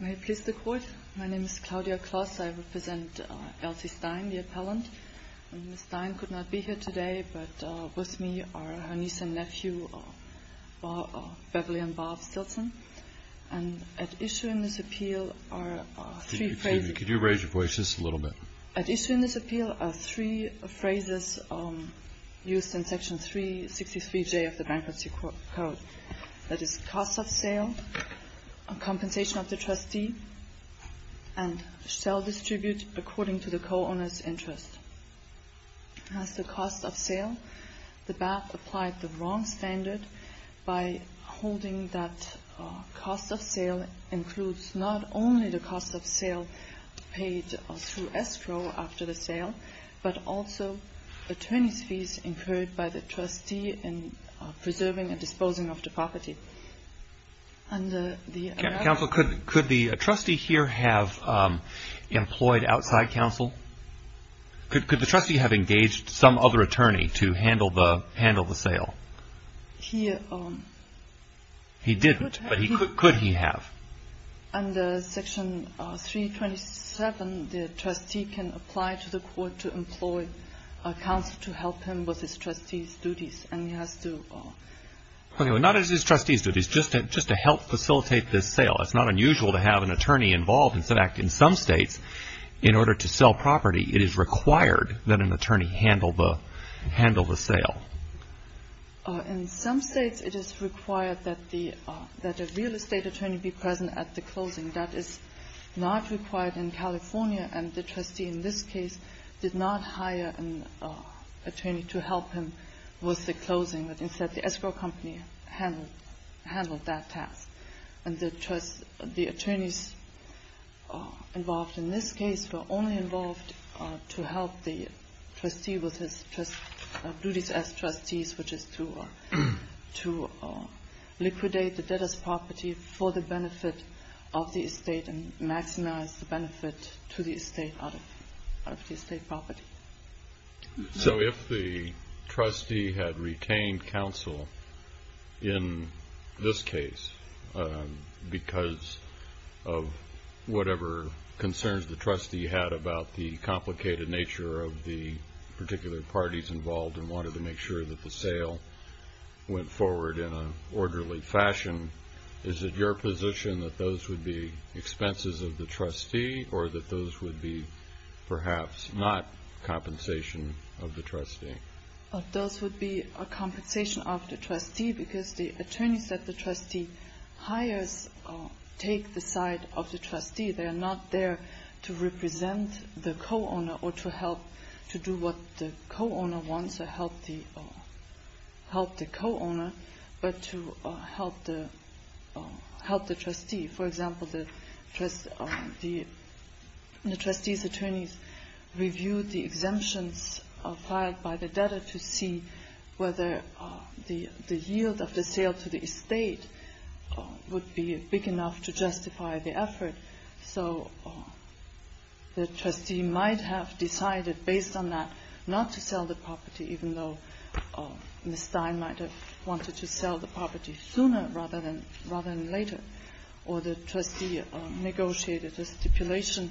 May it please the Court, my name is Claudia Kloss. I represent Elsie Stein, the appellant. Ms. Stein could not be here today, but with me are her niece and nephew, Beverly and Bob Stilson. And at issue in this appeal are three phrases... Excuse me, could you raise your voices a little bit? At issue in this appeal are three phrases used in Section 363J of the Bankruptcy Code. That is cost of sale, compensation of the trustee, and shall distribute according to the co-owner's interest. As to cost of sale, the BAP applied the wrong standard by holding that cost of sale includes not only the cost of sale paid through escrow after the sale, but also attorney's fees incurred by the trustee in preserving and disposing of the property. Under the... Counsel, could the trustee here have employed outside counsel? Could the trustee have engaged some other attorney to handle the sale? He... He didn't, but could he have? Under Section 327, the trustee can apply to the court to employ counsel to help him with his trustee's duties, and he has to... Okay, well, not as his trustee's duties, just to help facilitate this sale. It's not unusual to have an attorney involved. In fact, in some states, in order to sell property, it is required that an attorney handle the sale. In some states, it is required that the real estate attorney be present at the closing. That is not required in California, and the trustee in this case did not hire an attorney to help him with the closing. Instead, the escrow company handled that task. And the attorneys involved in this case were only involved to help the trustee with his duties as trustees, which is to liquidate the debtor's property for the benefit of the estate and maximize the benefit to the estate out of the estate property. So if the trustee had retained counsel in this case because of whatever concerns the trustee had about the complicated nature of the particular parties involved and wanted to make sure that the sale went forward in an orderly fashion, is it your position that those would be expenses of the trustee or that those would be perhaps not compensation of the trustee? Those would be a compensation of the trustee because the attorneys that the trustee hires take the side of the trustee. They are not there to represent the co-owner or to help to do what the co-owner wants or help the co-owner, but to help the trustee. For example, the trustee's attorneys reviewed the exemptions filed by the debtor to see whether the yield of the sale to the estate would be big enough to justify the effort. So the trustee might have decided based on that not to sell the property, even though Ms. Stein might have wanted to sell the property sooner rather than later, or the trustee negotiated a stipulation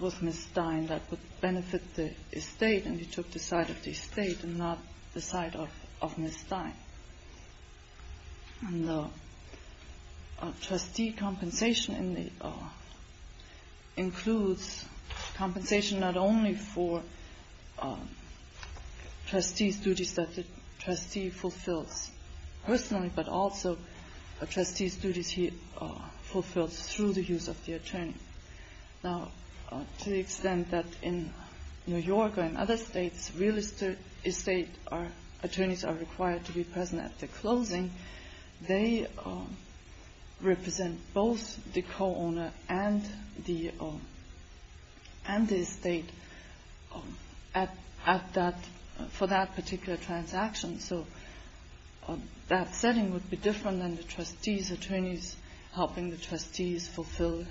with Ms. Stein that would benefit the estate, and he took the side of the estate and not the side of Ms. Stein. And the trustee compensation includes compensation not only for trustee's duties that the trustee fulfills personally, but also a trustee's duties he fulfills through the use of the attorney. Now, to the extent that in New York or in other states real estate attorneys are required to be present at the closing, they represent both the co-owner and the estate for that particular transaction. So that setting would be different than the trustee's attorneys helping the trustees fulfill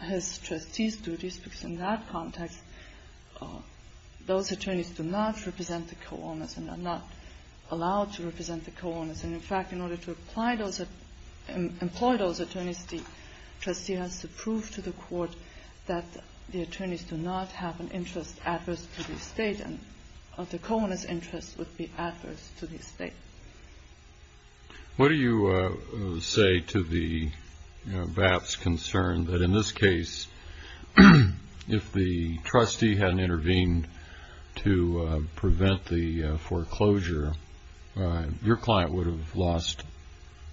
his trustee's duties, because in that context those attorneys do not represent the co-owners and are not allowed to represent the co-owners. And, in fact, in order to employ those attorneys, the trustee has to prove to the court that the attorneys do not have an interest adverse to the estate, and the co-owner's interest would be adverse to the estate. What do you say to the VAP's concern that, in this case, if the trustee hadn't intervened to prevent the foreclosure, your client would have lost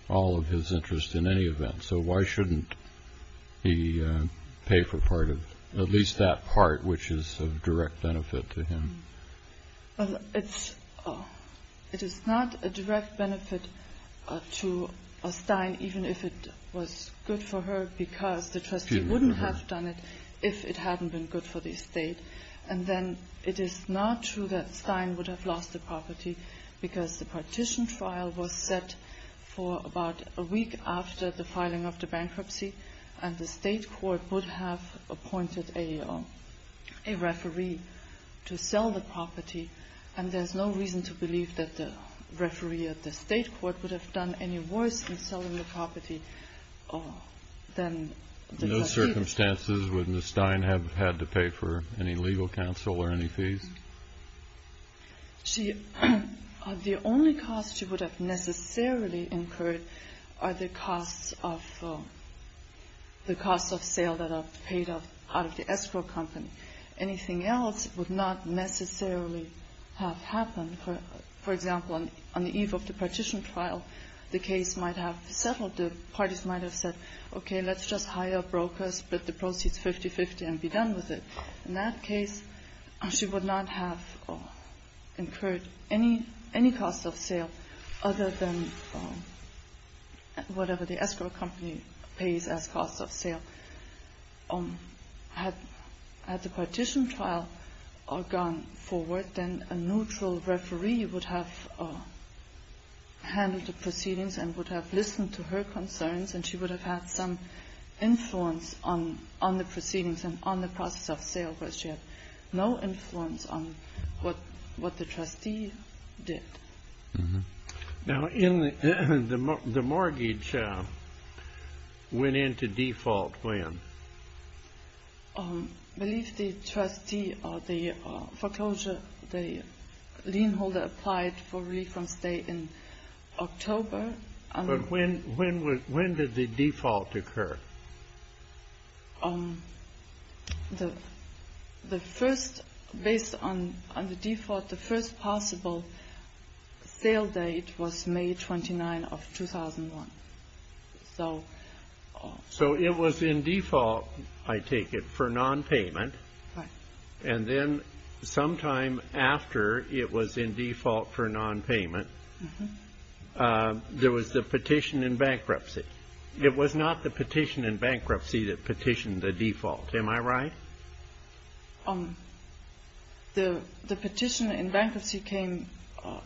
all of his interest in any event. So why shouldn't he pay for at least that part, which is of direct benefit to him? It is not a direct benefit to Stein, even if it was good for her, because the trustee wouldn't have done it if it hadn't been good for the estate. And then it is not true that Stein would have lost the property, because the partition file was set for about a week after the filing of the bankruptcy, and the state court would have appointed a referee to sell the property, and there's no reason to believe that the referee at the state court would have done any worse in selling the property than the trustee. In those circumstances, would Ms. Stein have had to pay for any legal counsel or any fees? The only costs she would have necessarily incurred are the costs of sale that are paid out of the escrow company. Anything else would not necessarily have happened. For example, on the eve of the partition trial, the case might have settled. The parties might have said, okay, let's just hire brokers, split the proceeds 50-50, and be done with it. In that case, she would not have incurred any costs of sale other than whatever the escrow company pays as costs of sale. Had the partition trial gone forward, then a neutral referee would have handled the proceedings and would have listened to her concerns, and she would have had some influence on the proceedings and on the process of sale, but she had no influence on what the trustee did. Now, the mortgage went into default when? I believe the trustee or the foreclosure, the lien holder applied for relief from stay in October. But when did the default occur? The first, based on the default, the first possible sale date was May 29 of 2001. So it was in default, I take it, for nonpayment. And then sometime after it was in default for nonpayment, there was the petition in bankruptcy. It was not the petition in bankruptcy that petitioned the default, am I right? The petition in bankruptcy came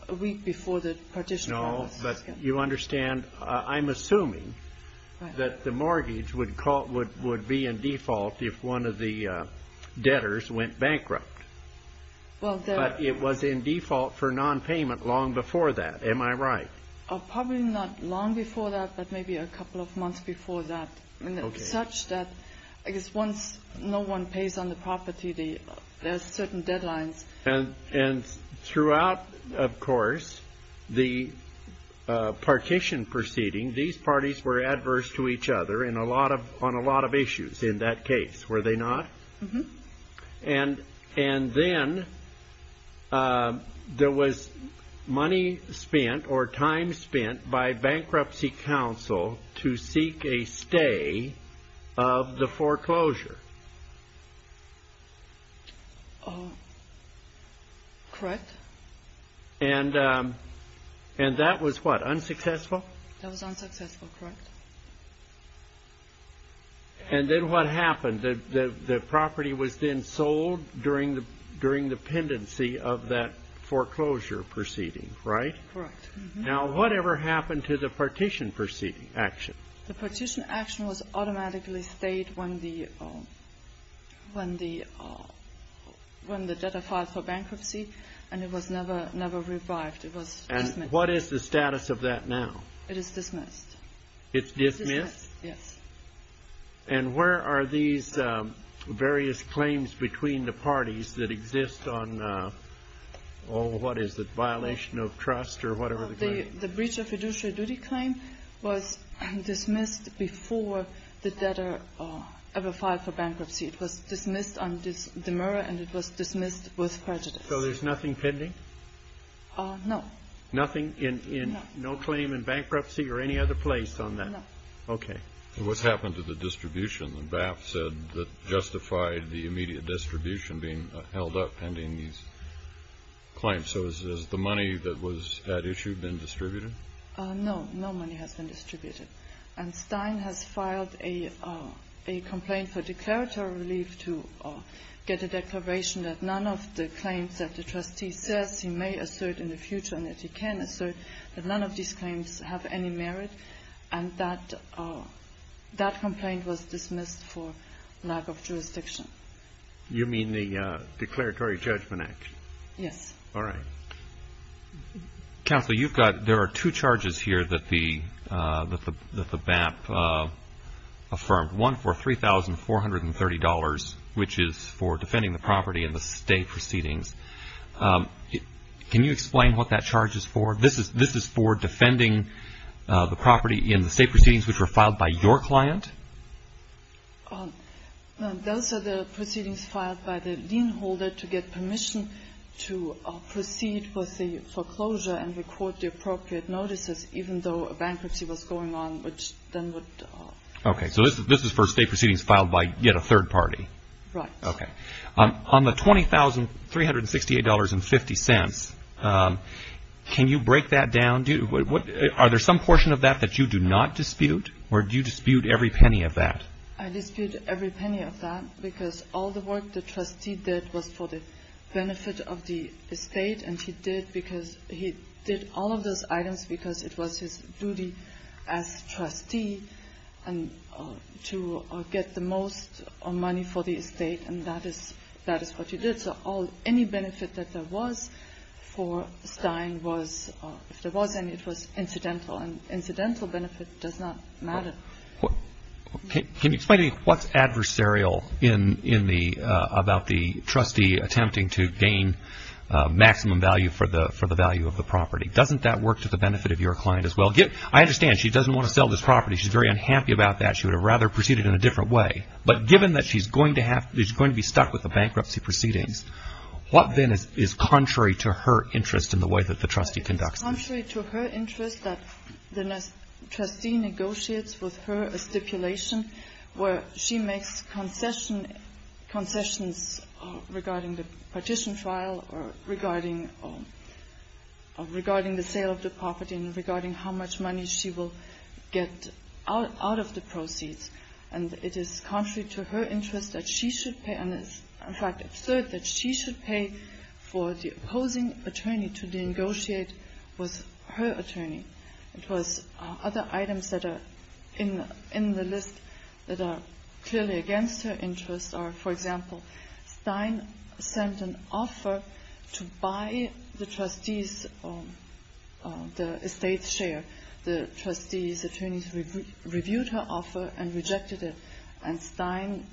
a week before the partition trial. But you understand, I'm assuming that the mortgage would be in default if one of the debtors went bankrupt. But it was in default for nonpayment long before that, am I right? Probably not long before that, but maybe a couple of months before that, such that I guess once no one pays on the property, there are certain deadlines. And throughout, of course, the partition proceeding, these parties were adverse to each other on a lot of issues in that case, were they not? And then there was money spent or time spent by bankruptcy counsel to seek a stay of the foreclosure. Correct. And that was what, unsuccessful? That was unsuccessful, correct. And then what happened? The property was then sold during the pendency of that foreclosure proceeding, right? Correct. Now, whatever happened to the partition action? The partition action was automatically stayed when the debtor filed for bankruptcy, and it was never revived. And what is the status of that now? It is dismissed. It's dismissed? Yes. And where are these various claims between the parties that exist on, oh, what is it, violation of trust or whatever the claim is? The breach of fiduciary duty claim was dismissed before the debtor ever filed for bankruptcy. It was dismissed on demur and it was dismissed with prejudice. So there's nothing pending? No. Nothing? No. No claim in bankruptcy or any other place on that? No. Okay. What's happened to the distribution? The BAP said that justified the immediate distribution being held up pending these claims. So has the money that was at issue been distributed? No. No money has been distributed. And Stein has filed a complaint for declaratory relief to get a declaration that none of the claims that the trustee says he may assert in the future and that he can assert that none of these claims have any merit. And that complaint was dismissed for lack of jurisdiction. You mean the Declaratory Judgment Act? Yes. All right. Counsel, you've got, there are two charges here that the BAP affirmed. One for $3,430, which is for defending the property in the state proceedings. Can you explain what that charge is for? This is for defending the property in the state proceedings which were filed by your client? Those are the proceedings filed by the lien holder to get permission to proceed with the foreclosure and record the appropriate notices even though a bankruptcy was going on, which then would... Okay. So this is for state proceedings filed by yet a third party? Right. Okay. On the $20,368.50, can you break that down? Are there some portion of that that you do not dispute or do you dispute every penny of that? I dispute every penny of that because all the work the trustee did was for the benefit of the estate and he did because he did all of those items because it was his duty as trustee to get the most money for the estate and that is what he did. So any benefit that there was for Stein was, if there was any, it was incidental and incidental benefit does not matter. Can you explain to me what's adversarial about the trustee attempting to gain maximum value for the value of the property? Doesn't that work to the benefit of your client as well? I understand she doesn't want to sell this property. She's very unhappy about that. She would have rather proceeded in a different way. But given that she's going to be stuck with the bankruptcy proceedings, what then is contrary to her interest in the way that the trustee conducts it? It's contrary to her interest that the trustee negotiates with her a stipulation where she makes concessions regarding the partition trial or regarding the sale of the property and regarding how much money she will get out of the proceeds. And it is contrary to her interest that she should pay and is, in fact, absurd that she should pay for the opposing attorney to negotiate with her attorney. Of course, other items that are in the list that are clearly against her interest are, for example, Stein sent an offer to buy the trustee's estate share. The trustee's attorneys reviewed her offer and rejected it. And Stein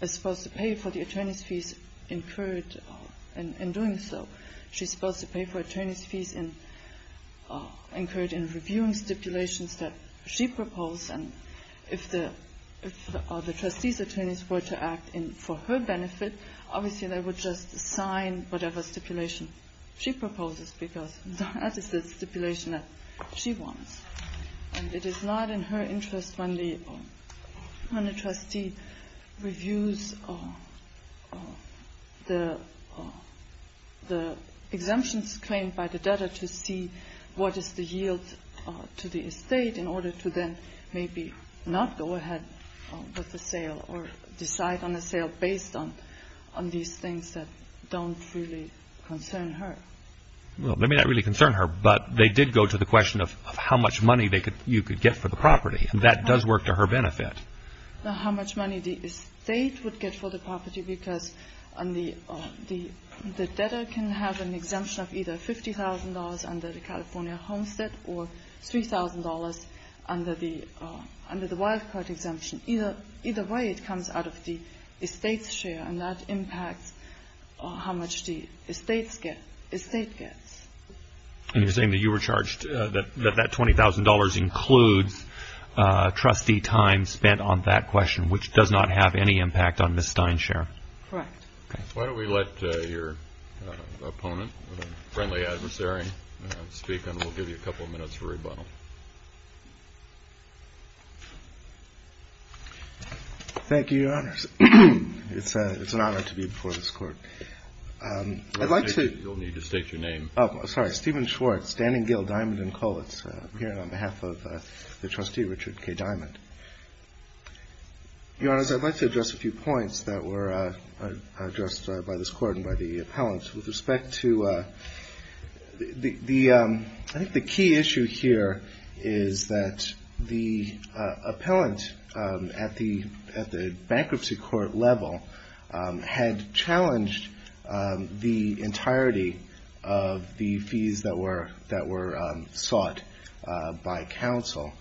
is supposed to pay for the attorney's fees incurred in doing so. She's supposed to pay for attorney's fees incurred in reviewing stipulations that she proposed. And if the trustee's attorneys were to act for her benefit, obviously they would just sign whatever stipulation she proposes because that is the stipulation that she wants. And it is not in her interest when the trustee reviews the exemptions claimed by the debtor to see what is the yield to the estate in order to then maybe not go ahead with the sale or decide on a sale based on these things that don't really concern her. Well, they may not really concern her, but they did go to the question of how much money you could get for the property. And that does work to her benefit. How much money the estate would get for the property because the debtor can have an exemption of either $50,000 under the California Homestead or $3,000 under the wild card exemption. Either way, it comes out of the estate's share, and that impacts how much the estate gets. And you're saying that you were charged that that $20,000 includes trustee time spent on that question, which does not have any impact on Ms. Steinshare? Correct. Why don't we let your opponent, friendly adversary, speak, and we'll give you a couple of minutes for rebuttal. Thank you, Your Honors. It's an honor to be before this Court. You'll need to state your name. Sorry, Stephen Schwartz, Standing Gill, Diamond & Kollitz. I'm here on behalf of the trustee, Richard K. Diamond. Your Honors, I'd like to address a few points that were addressed by this Court and by the appellant. With respect to the key issue here is that the appellant at the bankruptcy court level had challenged the entirety of the fees that were sought by counsel.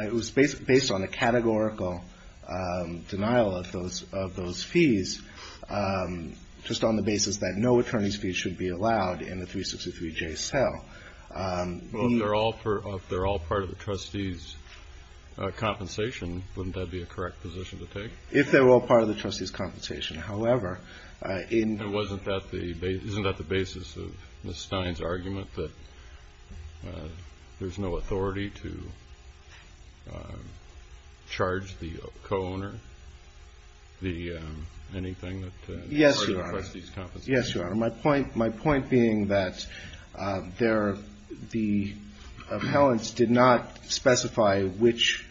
It was based on a categorical denial of those fees, just on the basis that no attorney's fees should be allowed in the 363-J cell. Well, if they're all part of the trustee's compensation, wouldn't that be a correct position to take? If they're all part of the trustee's compensation. Isn't that the basis of Ms. Stein's argument that there's no authority to charge the co-owner anything that is part of the trustee's compensation? Yes, Your Honor. My point being that the appellants did not specify which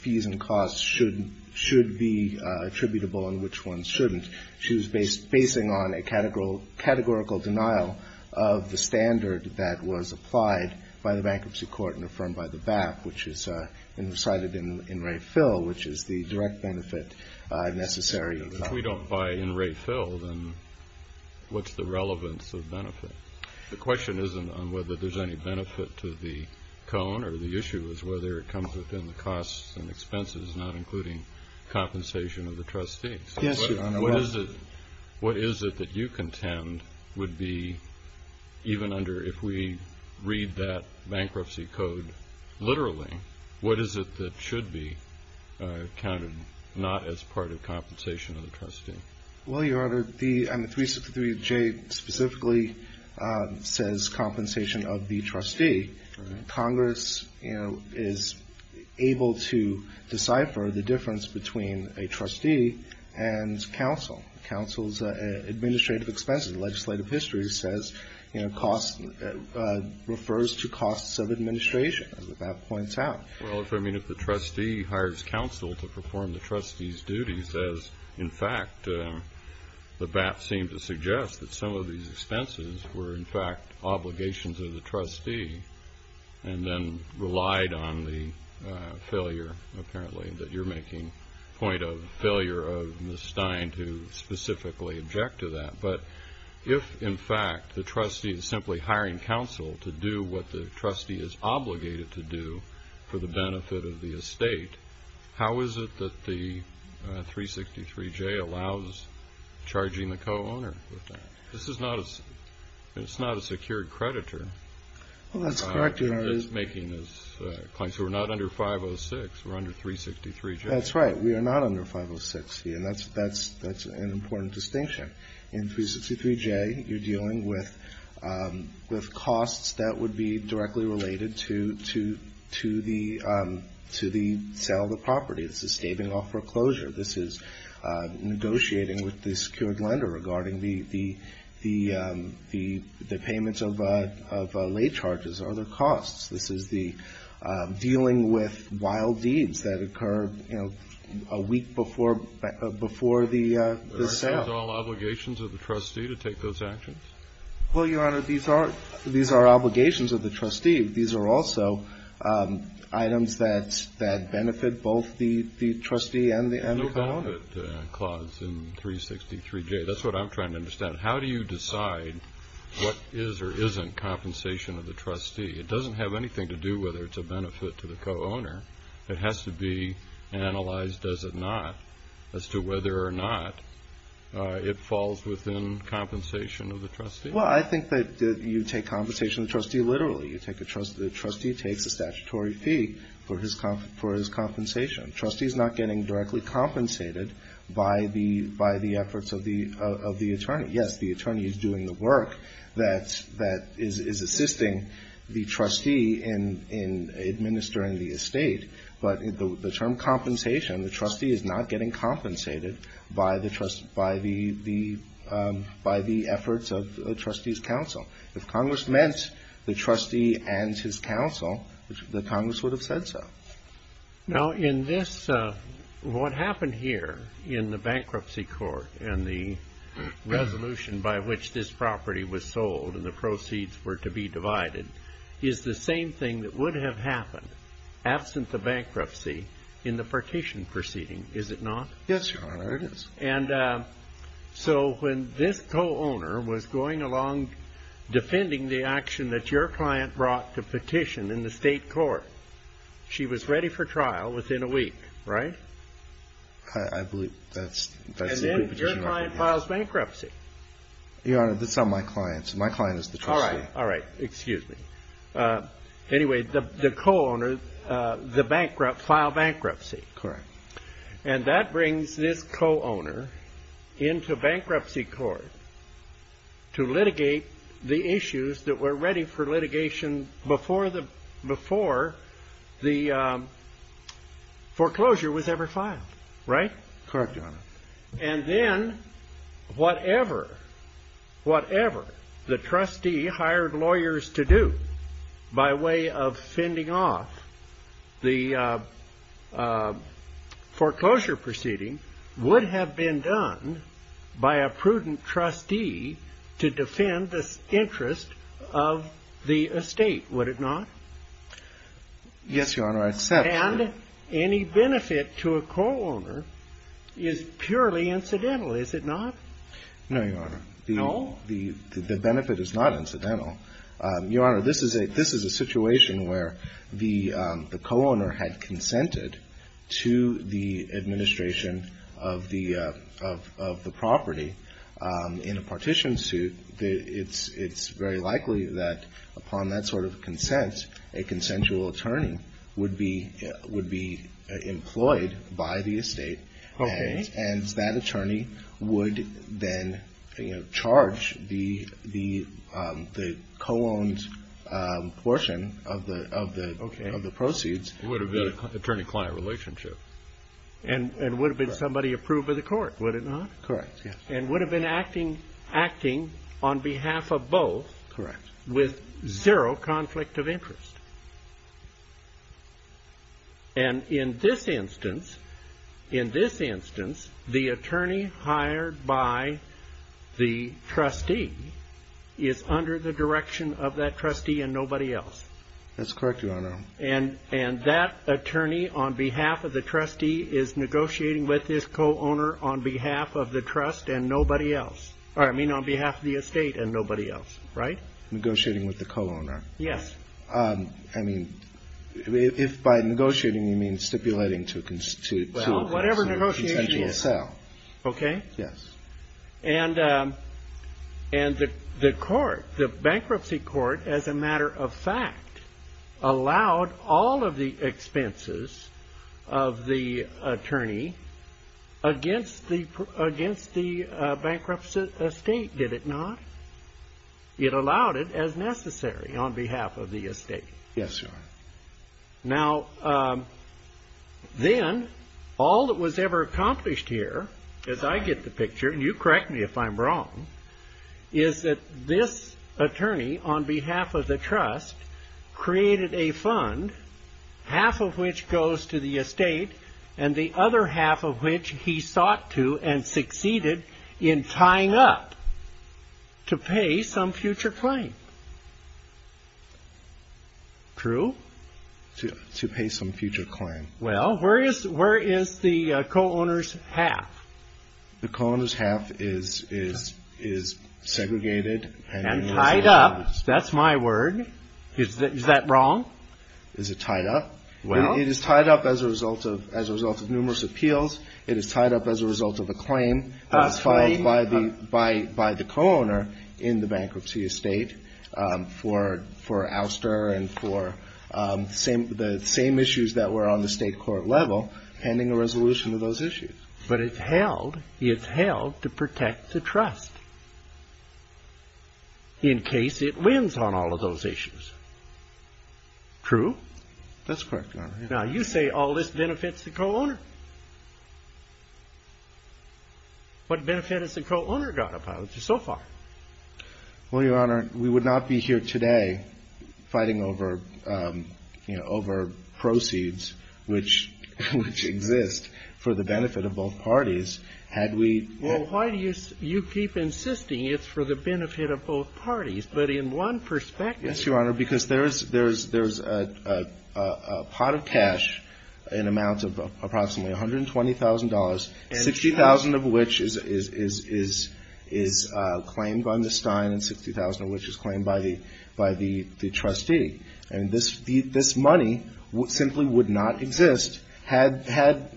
fees and costs should be attributable and which ones shouldn't. She was basing on a categorical denial of the standard that was applied by the bankruptcy court and affirmed by the BAP, which is cited in Ray Phil, which is the direct benefit necessary. If we don't buy in Ray Phil, then what's the relevance of benefit? The question isn't on whether there's any benefit to the co-owner. The issue is whether it comes within the costs and expenses, not including compensation of the trustees. Yes, Your Honor. What is it that you contend would be, even under if we read that bankruptcy code literally, what is it that should be counted not as part of compensation of the trustee? Well, Your Honor, the 363J specifically says compensation of the trustee. Congress is able to decipher the difference between a trustee and counsel. Counsel's administrative expenses, legislative history, refers to costs of administration. As the BAP points out. Well, if the trustee hires counsel to perform the trustee's duties, as in fact the BAP seemed to suggest that some of these expenses were, in fact, obligations of the trustee and then relied on the failure, apparently, that you're making, point of failure of Ms. Stein to specifically object to that. But if, in fact, the trustee is simply hiring counsel to do what the trustee is obligated to do for the benefit of the estate, how is it that the 363J allows charging the co-owner with that? This is not a secured creditor. Well, that's correct, Your Honor. That's making this claim. So we're not under 506. We're under 363J. That's right. We are not under 506. And that's an important distinction. In 363J, you're dealing with costs that would be directly related to the sale of the property. This is staving off foreclosure. This is negotiating with the secured lender regarding the payments of late charges or other costs. This is the dealing with wild deeds that occur, you know, a week before the sale. Are these all obligations of the trustee to take those actions? Well, Your Honor, these are obligations of the trustee. These are also items that benefit both the trustee and the co-owner. There's no benefit clause in 363J. That's what I'm trying to understand. How do you decide what is or isn't compensation of the trustee? It doesn't have anything to do whether it's a benefit to the co-owner. It has to be analyzed, does it not, as to whether or not it falls within compensation of the trustee. Well, I think that you take compensation of the trustee literally. The trustee takes a statutory fee for his compensation. The trustee is not getting directly compensated by the efforts of the attorney. Yes, the attorney is doing the work that is assisting the trustee in administering the estate, but the term compensation, the trustee is not getting compensated by the efforts of the trustee's counsel. If Congress meant the trustee and his counsel, the Congress would have said so. Now, in this, what happened here in the bankruptcy court and the resolution by which this property was sold and the proceeds were to be divided is the same thing that would have happened, absent the bankruptcy, in the partition proceeding, is it not? Yes, Your Honor, it is. And so when this co-owner was going along defending the action that your client brought to petition in the state court, she was ready for trial within a week, right? I believe that's the petition. And then your client files bankruptcy. Your Honor, that's not my client. My client is the trustee. All right. All right. Excuse me. Anyway, the co-owner filed bankruptcy. Correct. And that brings this co-owner into bankruptcy court to litigate the issues that were ready for litigation before the foreclosure was ever filed, right? And then whatever the trustee hired lawyers to do by way of fending off the foreclosure proceeding would have been done by a prudent trustee to defend the interest of the estate, would it not? Yes, Your Honor, I accept. And any benefit to a co-owner is purely incidental, is it not? No, Your Honor. No? The benefit is not incidental. Your Honor, this is a situation where the co-owner had consented to the administration of the property in a partition suit. It's very likely that upon that sort of consent, a consensual attorney would be employed by the estate. Okay. And that attorney would then charge the co-owned portion of the proceeds. It would have been an attorney-client relationship. And it would have been somebody approved by the court, would it not? Correct, yes. And would have been acting on behalf of both. Correct. With zero conflict of interest. And in this instance, the attorney hired by the trustee is under the direction of that trustee and nobody else. That's correct, Your Honor. And that attorney on behalf of the trustee is negotiating with his co-owner on behalf of the trust and nobody else. I mean, on behalf of the estate and nobody else, right? Negotiating with the co-owner. Yes. I mean, if by negotiating you mean stipulating to a consensual sale. Well, whatever negotiation is. Okay. Yes. And the court, the bankruptcy court, as a matter of fact, allowed all of the expenses of the attorney against the bankruptcy estate, did it not? It allowed it as necessary on behalf of the estate. Yes, Your Honor. Now, then all that was ever accomplished here, as I get the picture, and you correct me if I'm wrong, is that this attorney on behalf of the trust created a fund, half of which goes to the estate, and the other half of which he sought to and succeeded in tying up to pay some future claim. True. To pay some future claim. Well, where is the co-owner's half? The co-owner's half is segregated. And tied up. That's my word. Is that wrong? Is it tied up? Well. It is tied up as a result of numerous appeals. It is tied up as a result of a claim. A claim. By the co-owner in the bankruptcy estate for ouster and for the same issues that were on the state court level pending a resolution of those issues. But it's held to protect the trust in case it wins on all of those issues. True? That's correct, Your Honor. Now, you say all this benefits the co-owner. What benefit has the co-owner gotten so far? Well, Your Honor, we would not be here today fighting over, you know, over proceeds which exist for the benefit of both parties had we... Well, why do you keep insisting it's for the benefit of both parties? But in one perspective... $120,000, $60,000 of which is claimed by Ms. Stein and $60,000 of which is claimed by the trustee. And this money simply would not exist had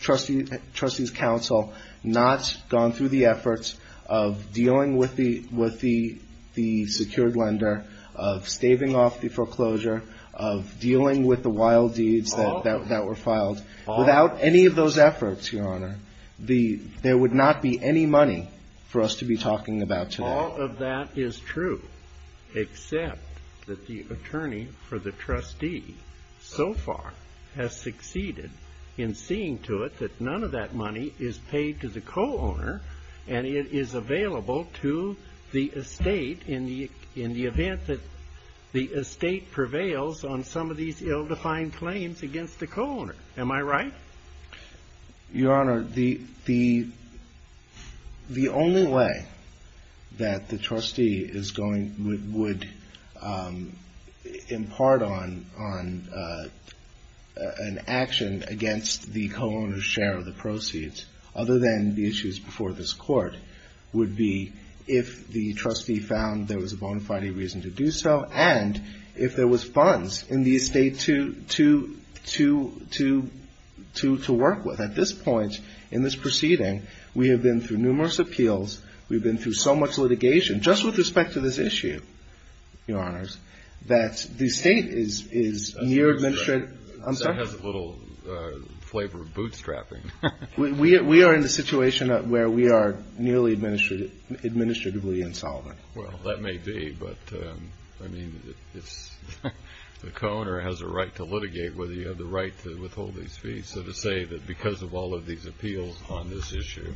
Trustee's Counsel not gone through the efforts of dealing with the secured lender, of staving off the foreclosure, of dealing with the wild deeds that were filed. Without any of those efforts, Your Honor, there would not be any money for us to be talking about today. All of that is true, except that the attorney for the trustee so far has succeeded in seeing to it that none of that money is paid to the co-owner and it is available to the estate in the event that the estate prevails on some of these ill-defined claims against the co-owner. Am I right? Your Honor, the only way that the trustee would impart on an action against the co-owner's share of the proceeds, other than the issues before this Court, would be if the trustee found there was a bona fide reason to do so and if there was funds in the estate to work with. At this point in this proceeding, we have been through numerous appeals. We've been through so much litigation, just with respect to this issue, Your Honors, that the estate is near administrative. That has a little flavor of bootstrapping. We are in a situation where we are nearly administratively insolvent. Well, that may be, but the co-owner has a right to litigate whether you have the right to withhold these fees. So to say that because of all of these appeals on this issue,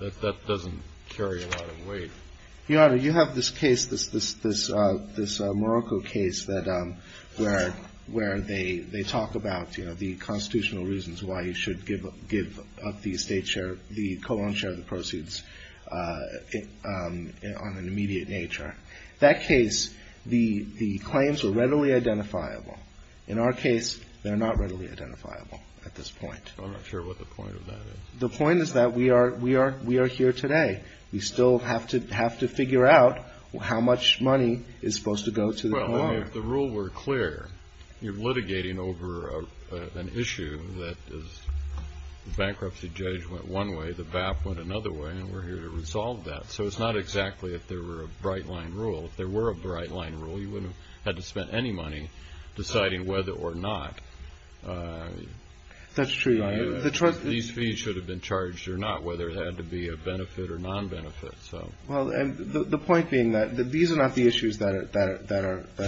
that doesn't carry a lot of weight. Your Honor, you have this case, this Morocco case, where they talk about, you know, the constitutional reasons why you should give up the estate share, the co-owner's share of the proceeds on an immediate nature. That case, the claims were readily identifiable. In our case, they're not readily identifiable at this point. I'm not sure what the point of that is. The point is that we are here today. We still have to figure out how much money is supposed to go to the co-owner. Well, if the rule were clear, you're litigating over an issue that is the bankruptcy judge went one way, the BAP went another way, and we're here to resolve that. So it's not exactly if there were a bright-line rule. If there were a bright-line rule, you wouldn't have had to spend any money deciding whether or not. That's true. These fees should have been charged or not, whether it had to be a benefit or non-benefit. Well, the point being that these are not the issues that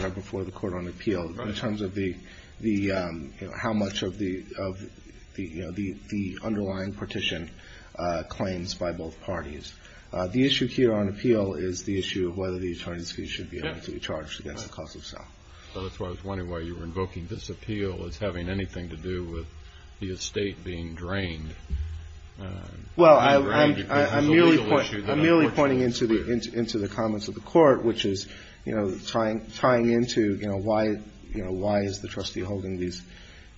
are before the court on appeal in terms of the, you know, how much of the underlying partition claims by both parties. The issue here on appeal is the issue of whether the attorney's fees should be able to be charged against the cost of sale. That's why I was wondering why you were invoking this appeal as having anything to do with the estate being drained. Well, I'm merely pointing into the comments of the court, which is, you know, tying into, you know, why is the trustee holding these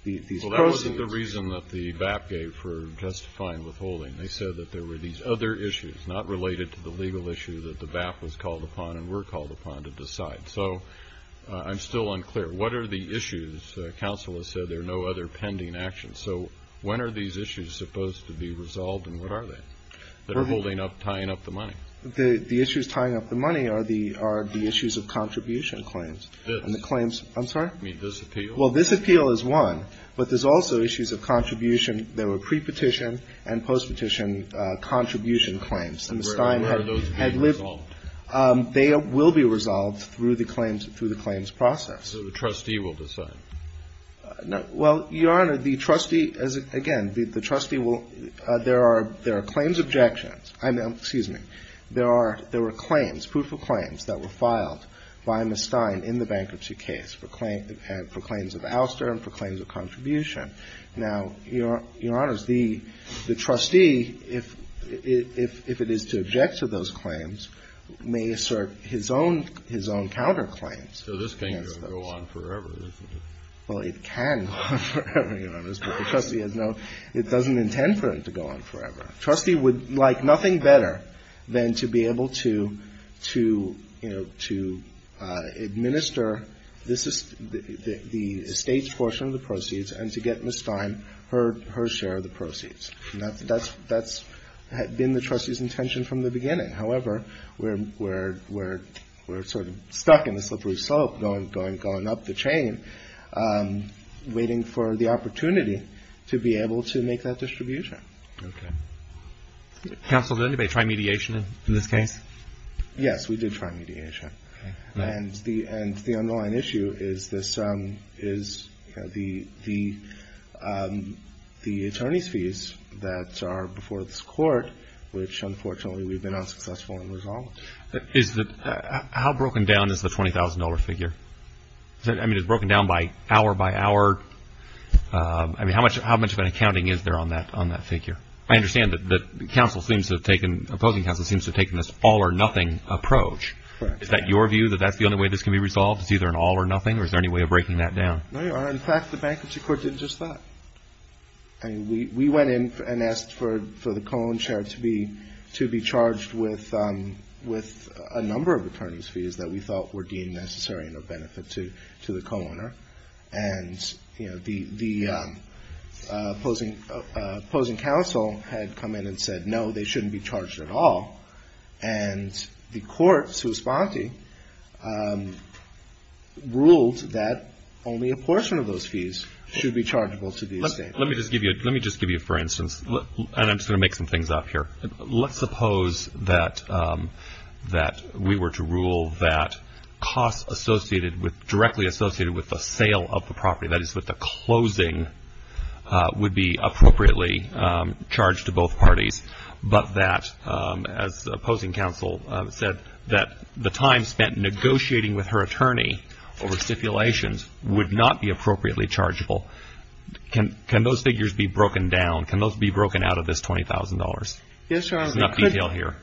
proceeds? Well, that wasn't the reason that the BAP gave for justifying withholding. They said that there were these other issues not related to the legal issue that the BAP was called upon and were called upon to decide. So I'm still unclear. What are the issues? Counsel has said there are no other pending actions. So when are these issues supposed to be resolved, and what are they that are holding up, tying up the money? The issues tying up the money are the issues of contribution claims. And the claims – I'm sorry? You mean this appeal? Well, this appeal is one. But there's also issues of contribution. There were pre-petition and post-petition contribution claims. Where are those being resolved? They will be resolved through the claims process. So the trustee will decide? Well, Your Honor, the trustee – again, the trustee will – there are claims objections. Excuse me. There were claims, proof of claims that were filed by Ms. Stein in the bankruptcy case for claims of ouster and for claims of contribution. Now, Your Honor, the trustee, if it is to object to those claims, may assert his own counterclaims. So this can't go on forever, isn't it? Well, it can go on forever, Your Honor. But the trustee has no – it doesn't intend for it to go on forever. Trustee would like nothing better than to be able to, you know, to administer the estate's portion of the proceeds and to get Ms. Stein her share of the proceeds. That's been the trustee's intention from the beginning. However, we're sort of stuck in a slippery slope going up the chain, waiting for the opportunity to be able to make that distribution. Okay. Counsel, did anybody try mediation in this case? Yes, we did try mediation. And the underlying issue is this – is the attorney's fees that are before this court, which unfortunately we've been unsuccessful in resolving. Is the – how broken down is the $20,000 figure? I mean, is it broken down by hour by hour? I mean, how much of an accounting is there on that figure? I understand that counsel seems to have taken – opposing counsel seems to have taken this all or nothing approach. Correct. Is that your view, that that's the only way this can be resolved? It's either an all or nothing, or is there any way of breaking that down? No, Your Honor. In fact, the bankruptcy court did just that. I mean, we went in and asked for the co-own share to be charged with a number of attorney's fees that we thought were deemed necessary and of benefit to the co-owner. And, you know, the opposing counsel had come in and said, no, they shouldn't be charged at all. And the court, sua sponte, ruled that only a portion of those fees should be chargeable to the estate. Let me just give you – let me just give you, for instance – and I'm just going to make some things up here. Let's suppose that we were to rule that costs associated with – directly associated with the sale of the property, that is, with the closing, would be appropriately charged to both parties. But that, as the opposing counsel said, that the time spent negotiating with her attorney over stipulations would not be appropriately chargeable. Can those figures be broken down? Can those be broken out of this $20,000? Yes, Your Honor. There's enough detail here.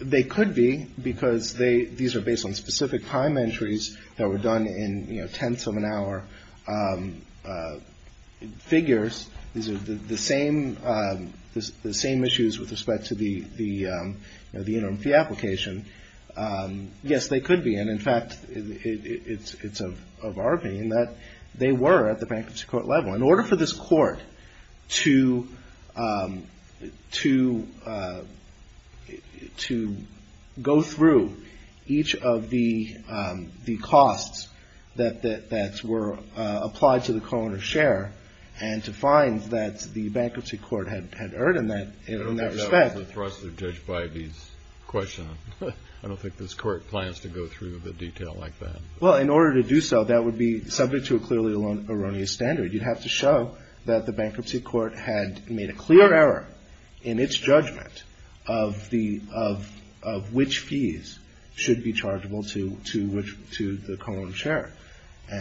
They could be, because these are based on specific time entries that were done in, you know, tenths of an hour figures. These are the same issues with respect to the interim fee application. Yes, they could be. And, in fact, it's of our being that they were at the bankruptcy court level. In order for this court to go through each of the costs that were applied to the co-owner's share and to find that the bankruptcy court had earned in that respect. I don't think that was the thrust of Judge Bybee's question. I don't think this court plans to go through the detail like that. Well, in order to do so, that would be subject to a clearly erroneous standard. You'd have to show that the bankruptcy court had made a clear error in its judgment of which fees should be chargeable to the co-owner's share.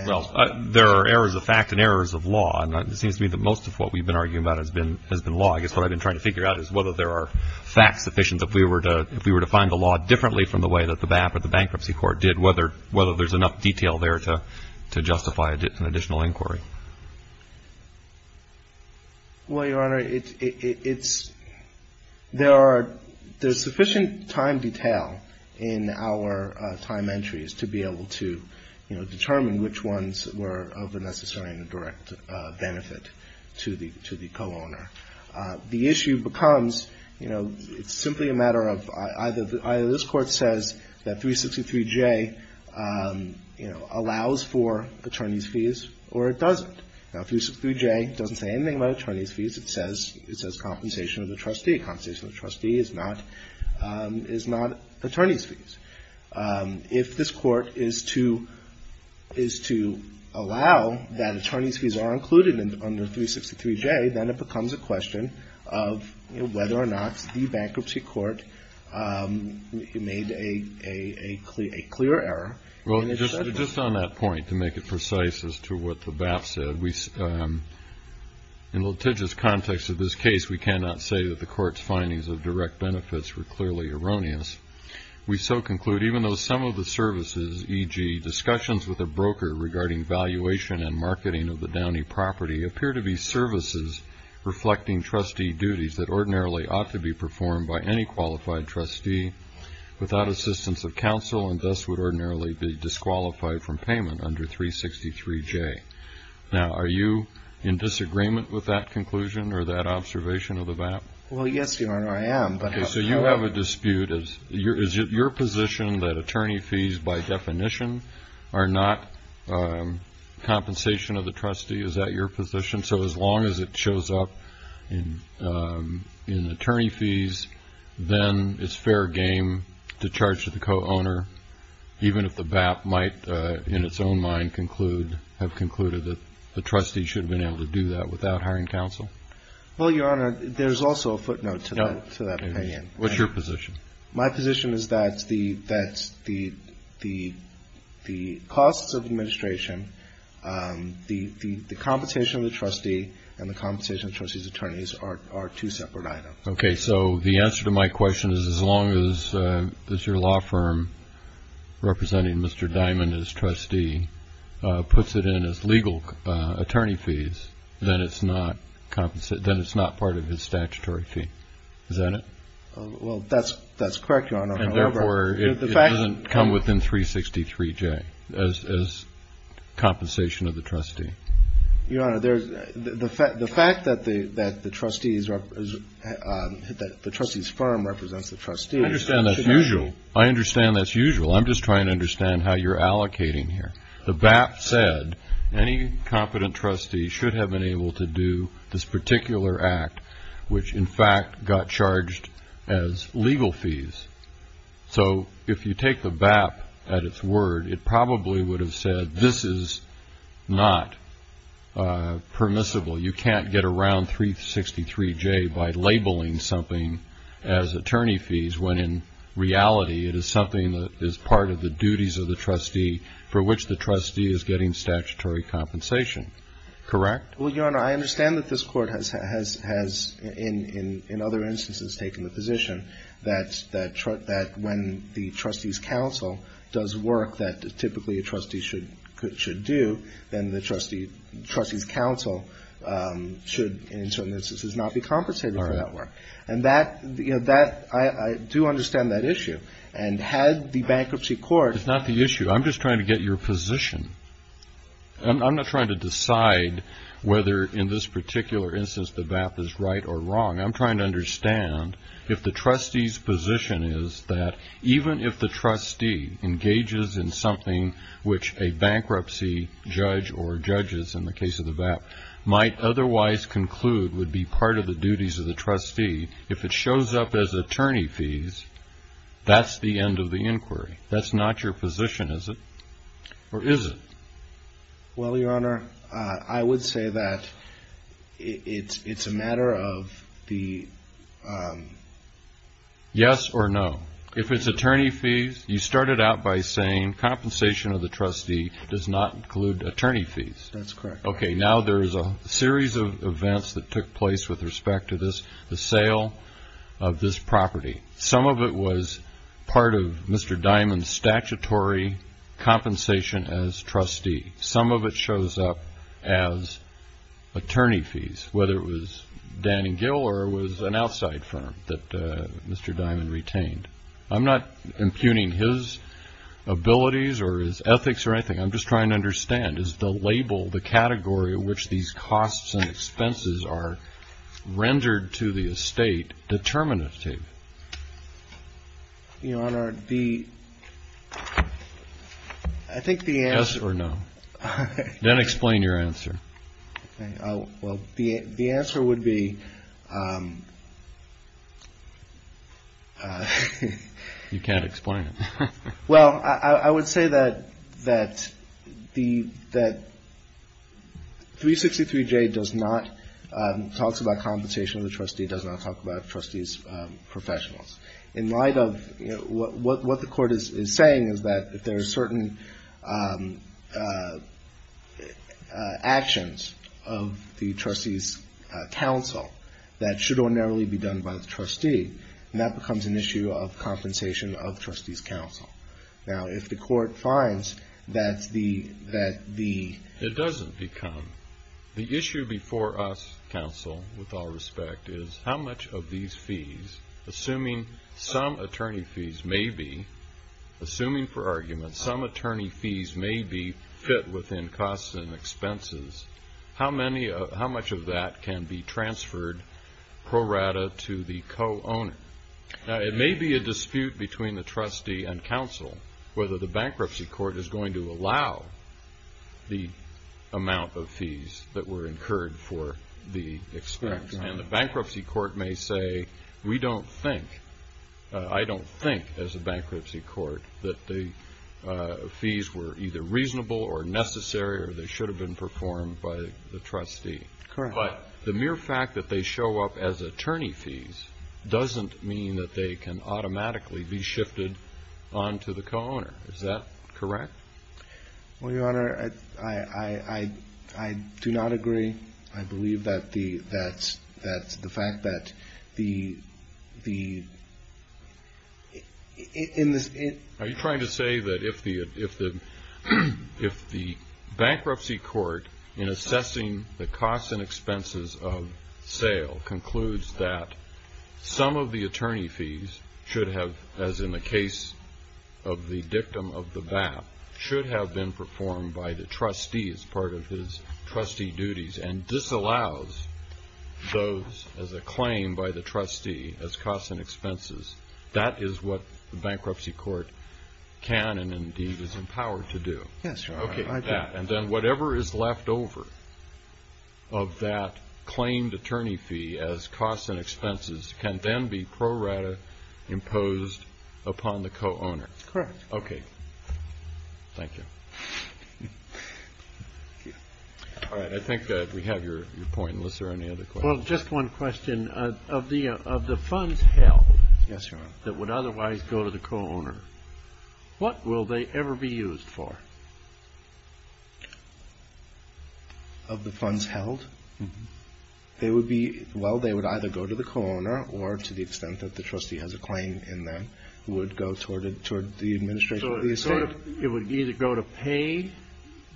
Well, there are errors of fact and errors of law. And it seems to me that most of what we've been arguing about has been law. I guess what I've been trying to figure out is whether there are facts sufficient if we were to find the law differently from the way that the bankruptcy court did, whether there's enough detail there to justify an additional inquiry. Well, Your Honor, there's sufficient time detail in our time entries to be able to, you know, determine which ones were of a necessary and direct benefit to the co-owner. The issue becomes, you know, it's simply a matter of either this court says that 363J, you know, allows for attorney's fees or it doesn't. Now, 363J doesn't say anything about attorney's fees. It says compensation of the trustee. Compensation of the trustee is not attorney's fees. If this court is to allow that attorney's fees are included under 363J, then it becomes a question of whether or not the bankruptcy court made a clear error. Well, just on that point, to make it precise as to what the BAP said, in litigious context of this case, we cannot say that the court's findings of direct benefits were clearly erroneous. We so conclude, even though some of the services, e.g., discussions with a broker regarding valuation and marketing of the Downey property, appear to be services reflecting trustee duties that ordinarily ought to be performed by any qualified trustee without assistance of counsel and thus would ordinarily be disqualified from payment under 363J. Now, are you in disagreement with that conclusion or that observation of the BAP? Well, yes, Your Honor, I am. Okay, so you have a dispute. Is it your position that attorney fees, by definition, are not compensation of the trustee? Is that your position? So as long as it shows up in attorney fees, then it's fair game to charge to the co-owner, even if the BAP might, in its own mind, have concluded that the trustee should have been able to do that without hiring counsel? Well, Your Honor, there's also a footnote to that opinion. What's your position? My position is that the costs of administration, the compensation of the trustee, and the compensation of the trustee's attorneys are two separate items. Okay, so the answer to my question is as long as your law firm, representing Mr. Diamond as trustee, puts it in as legal attorney fees, then it's not part of his statutory fee. Is that it? Well, that's correct, Your Honor. And therefore, it doesn't come within 363J as compensation of the trustee. Your Honor, the fact that the trustee's firm represents the trustee. I understand that's usual. I'm just trying to understand how you're allocating here. The BAP said any competent trustee should have been able to do this particular act, which, in fact, got charged as legal fees. So if you take the BAP at its word, it probably would have said this is not permissible. You can't get around 363J by labeling something as attorney fees when, in reality, it is something that is part of the duties of the trustee for which the trustee is getting statutory compensation. Correct? Well, Your Honor, I understand that this Court has, in other instances, taken the position that when the trustee's counsel does work that typically a trustee should do, then the trustee's counsel should, in certain instances, not be compensated for that work. All right. And that, you know, I do understand that issue. And had the Bankruptcy Court ---- It's not the issue. I'm just trying to get your position. I'm not trying to decide whether in this particular instance the BAP is right or wrong. I'm trying to understand if the trustee's position is that even if the trustee engages in something which a bankruptcy judge or judges in the case of the BAP might otherwise conclude would be part of the duties of the trustee, if it shows up as attorney fees, that's the end of the inquiry. That's not your position, is it? Or is it? Well, Your Honor, I would say that it's a matter of the ---- Yes or no. If it's attorney fees, you started out by saying compensation of the trustee does not include attorney fees. That's correct. Okay. Now there is a series of events that took place with respect to this, the sale of this property. Some of it was part of Mr. Diamond's statutory compensation as trustee. Some of it shows up as attorney fees, whether it was Dan and Gil or it was an outside firm that Mr. Diamond retained. I'm not impugning his abilities or his ethics or anything. I'm just trying to understand, is the label, the category in which these costs and expenses are rendered to the estate determinative? Your Honor, the ---- Yes or no. Then explain your answer. Well, the answer would be ---- You can't explain it. Well, I would say that the 363-J does not ---- talks about compensation of the trustee, does not talk about trustees' professionals. In light of what the court is saying is that if there are certain actions of the trustees' counsel that should or narrowly be done by the trustee, that becomes an issue of compensation of trustees' counsel. Now, if the court finds that the ---- It doesn't become. The issue before us, counsel, with all respect, is how much of these fees, assuming some attorney fees may be, assuming for argument, some attorney fees may be fit within costs and expenses, how much of that can be transferred pro rata to the co-owner? Now, it may be a dispute between the trustee and counsel whether the bankruptcy court is going to allow the amount of fees that were incurred for the expense. And the bankruptcy court may say, we don't think, I don't think as a bankruptcy court that the fees were either reasonable or necessary or they should have been performed by the trustee. Correct. But the mere fact that they show up as attorney fees doesn't mean that they can automatically be shifted on to the co-owner. Is that correct? Well, Your Honor, I do not agree. I believe that the fact that the ---- Are you trying to say that if the bankruptcy court, in assessing the costs and expenses of sale, concludes that some of the attorney fees should have, as in the case of the victim of the BAP, should have been performed by the trustee as part of his trustee duties and disallows those as a claim by the trustee as costs and expenses, that is what the bankruptcy court can and indeed is empowered to do? Yes, Your Honor. Okay. And then whatever is left over of that claimed attorney fee as costs and expenses can then be pro rata imposed upon the co-owner? Correct. Okay. Thank you. All right. I think we have your point. Unless there are any other questions. Well, just one question. Of the funds held that would otherwise go to the co-owner, what will they ever be used for? Of the funds held? Well, they would either go to the co-owner or, to the extent that the trustee has a claim in them, would go toward the administration of the estate. So it would either go to pay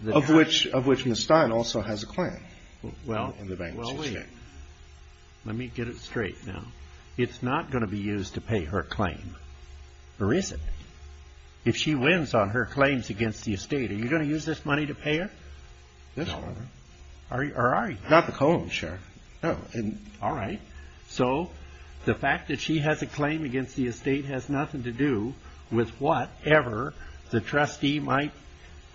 the ---- Of which Ms. Stein also has a claim in the bankruptcy estate. Let me get it straight now. It's not going to be used to pay her claim. Or is it? If she wins on her claims against the estate, are you going to use this money to pay her? No, Your Honor. Or are you? Not the co-owner, sure. All right. So the fact that she has a claim against the estate has nothing to do with whatever the trustee might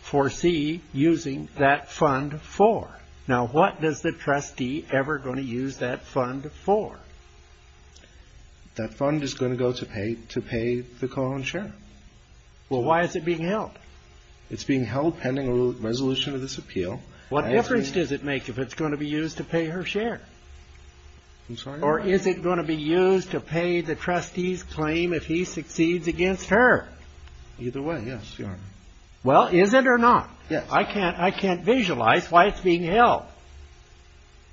foresee using that fund for. Now, what is the trustee ever going to use that fund for? That fund is going to go to pay the co-owner's share. Well, why is it being held? It's being held pending a resolution of this appeal. What difference does it make if it's going to be used to pay her share? I'm sorry? Or is it going to be used to pay the trustee's claim if he succeeds against her? Either way, yes, Your Honor. Well, is it or not? Yes. I can't visualize why it's being held.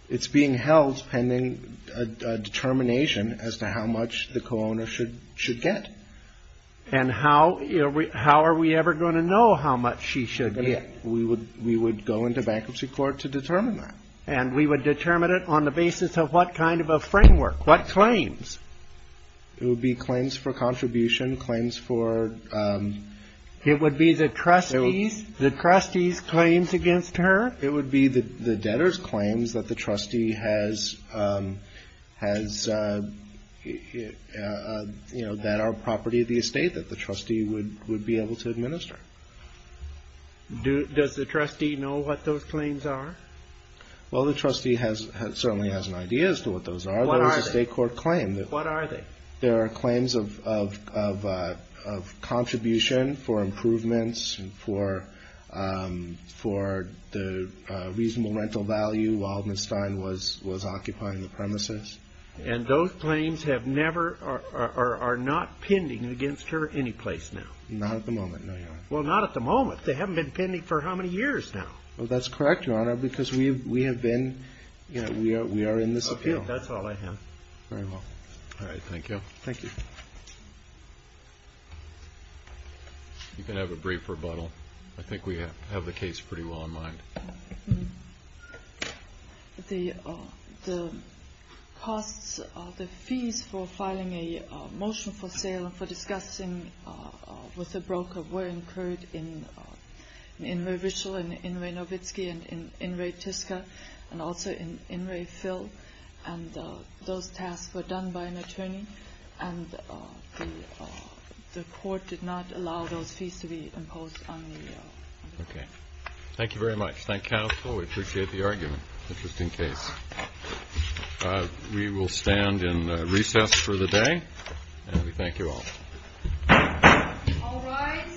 It's being held pending a determination as to how much the co-owner should get. And how are we ever going to know how much she should get? We would go into bankruptcy court to determine that. And we would determine it on the basis of what kind of a framework? What claims? It would be claims for contribution, claims for... It would be the trustee's claims against her? It would be the debtor's claims that the trustee has, you know, that are property of the estate that the trustee would be able to administer. Does the trustee know what those claims are? Well, the trustee certainly has an idea as to what those are. What are they? They're a state court claim. What are they? They are claims of contribution for improvements for the reasonable rental value while Ms. Stein was occupying the premises. And those claims have never or are not pending against her any place now? Not at the moment, no, Your Honor. Well, not at the moment. They haven't been pending for how many years now? Well, that's correct, Your Honor, because we have been, you know, we are in this appeal. Okay, that's all I have. Very well. All right. Thank you. Thank you. You can have a brief rebuttal. I think we have the case pretty well in mind. The costs, the fees for filing a motion for sale and for discussing with a broker were incurred in Murray Ritchell and in Ray Nowitzki and in Ray Tiska and also in Ray Phil, and those tasks were done by an attorney, and the court did not allow those fees to be imposed on me. Okay. Thank you very much. Thank you, counsel. We appreciate the argument, just in case. We will stand in recess for the day, and we thank you all. All rise. The court is adjourned.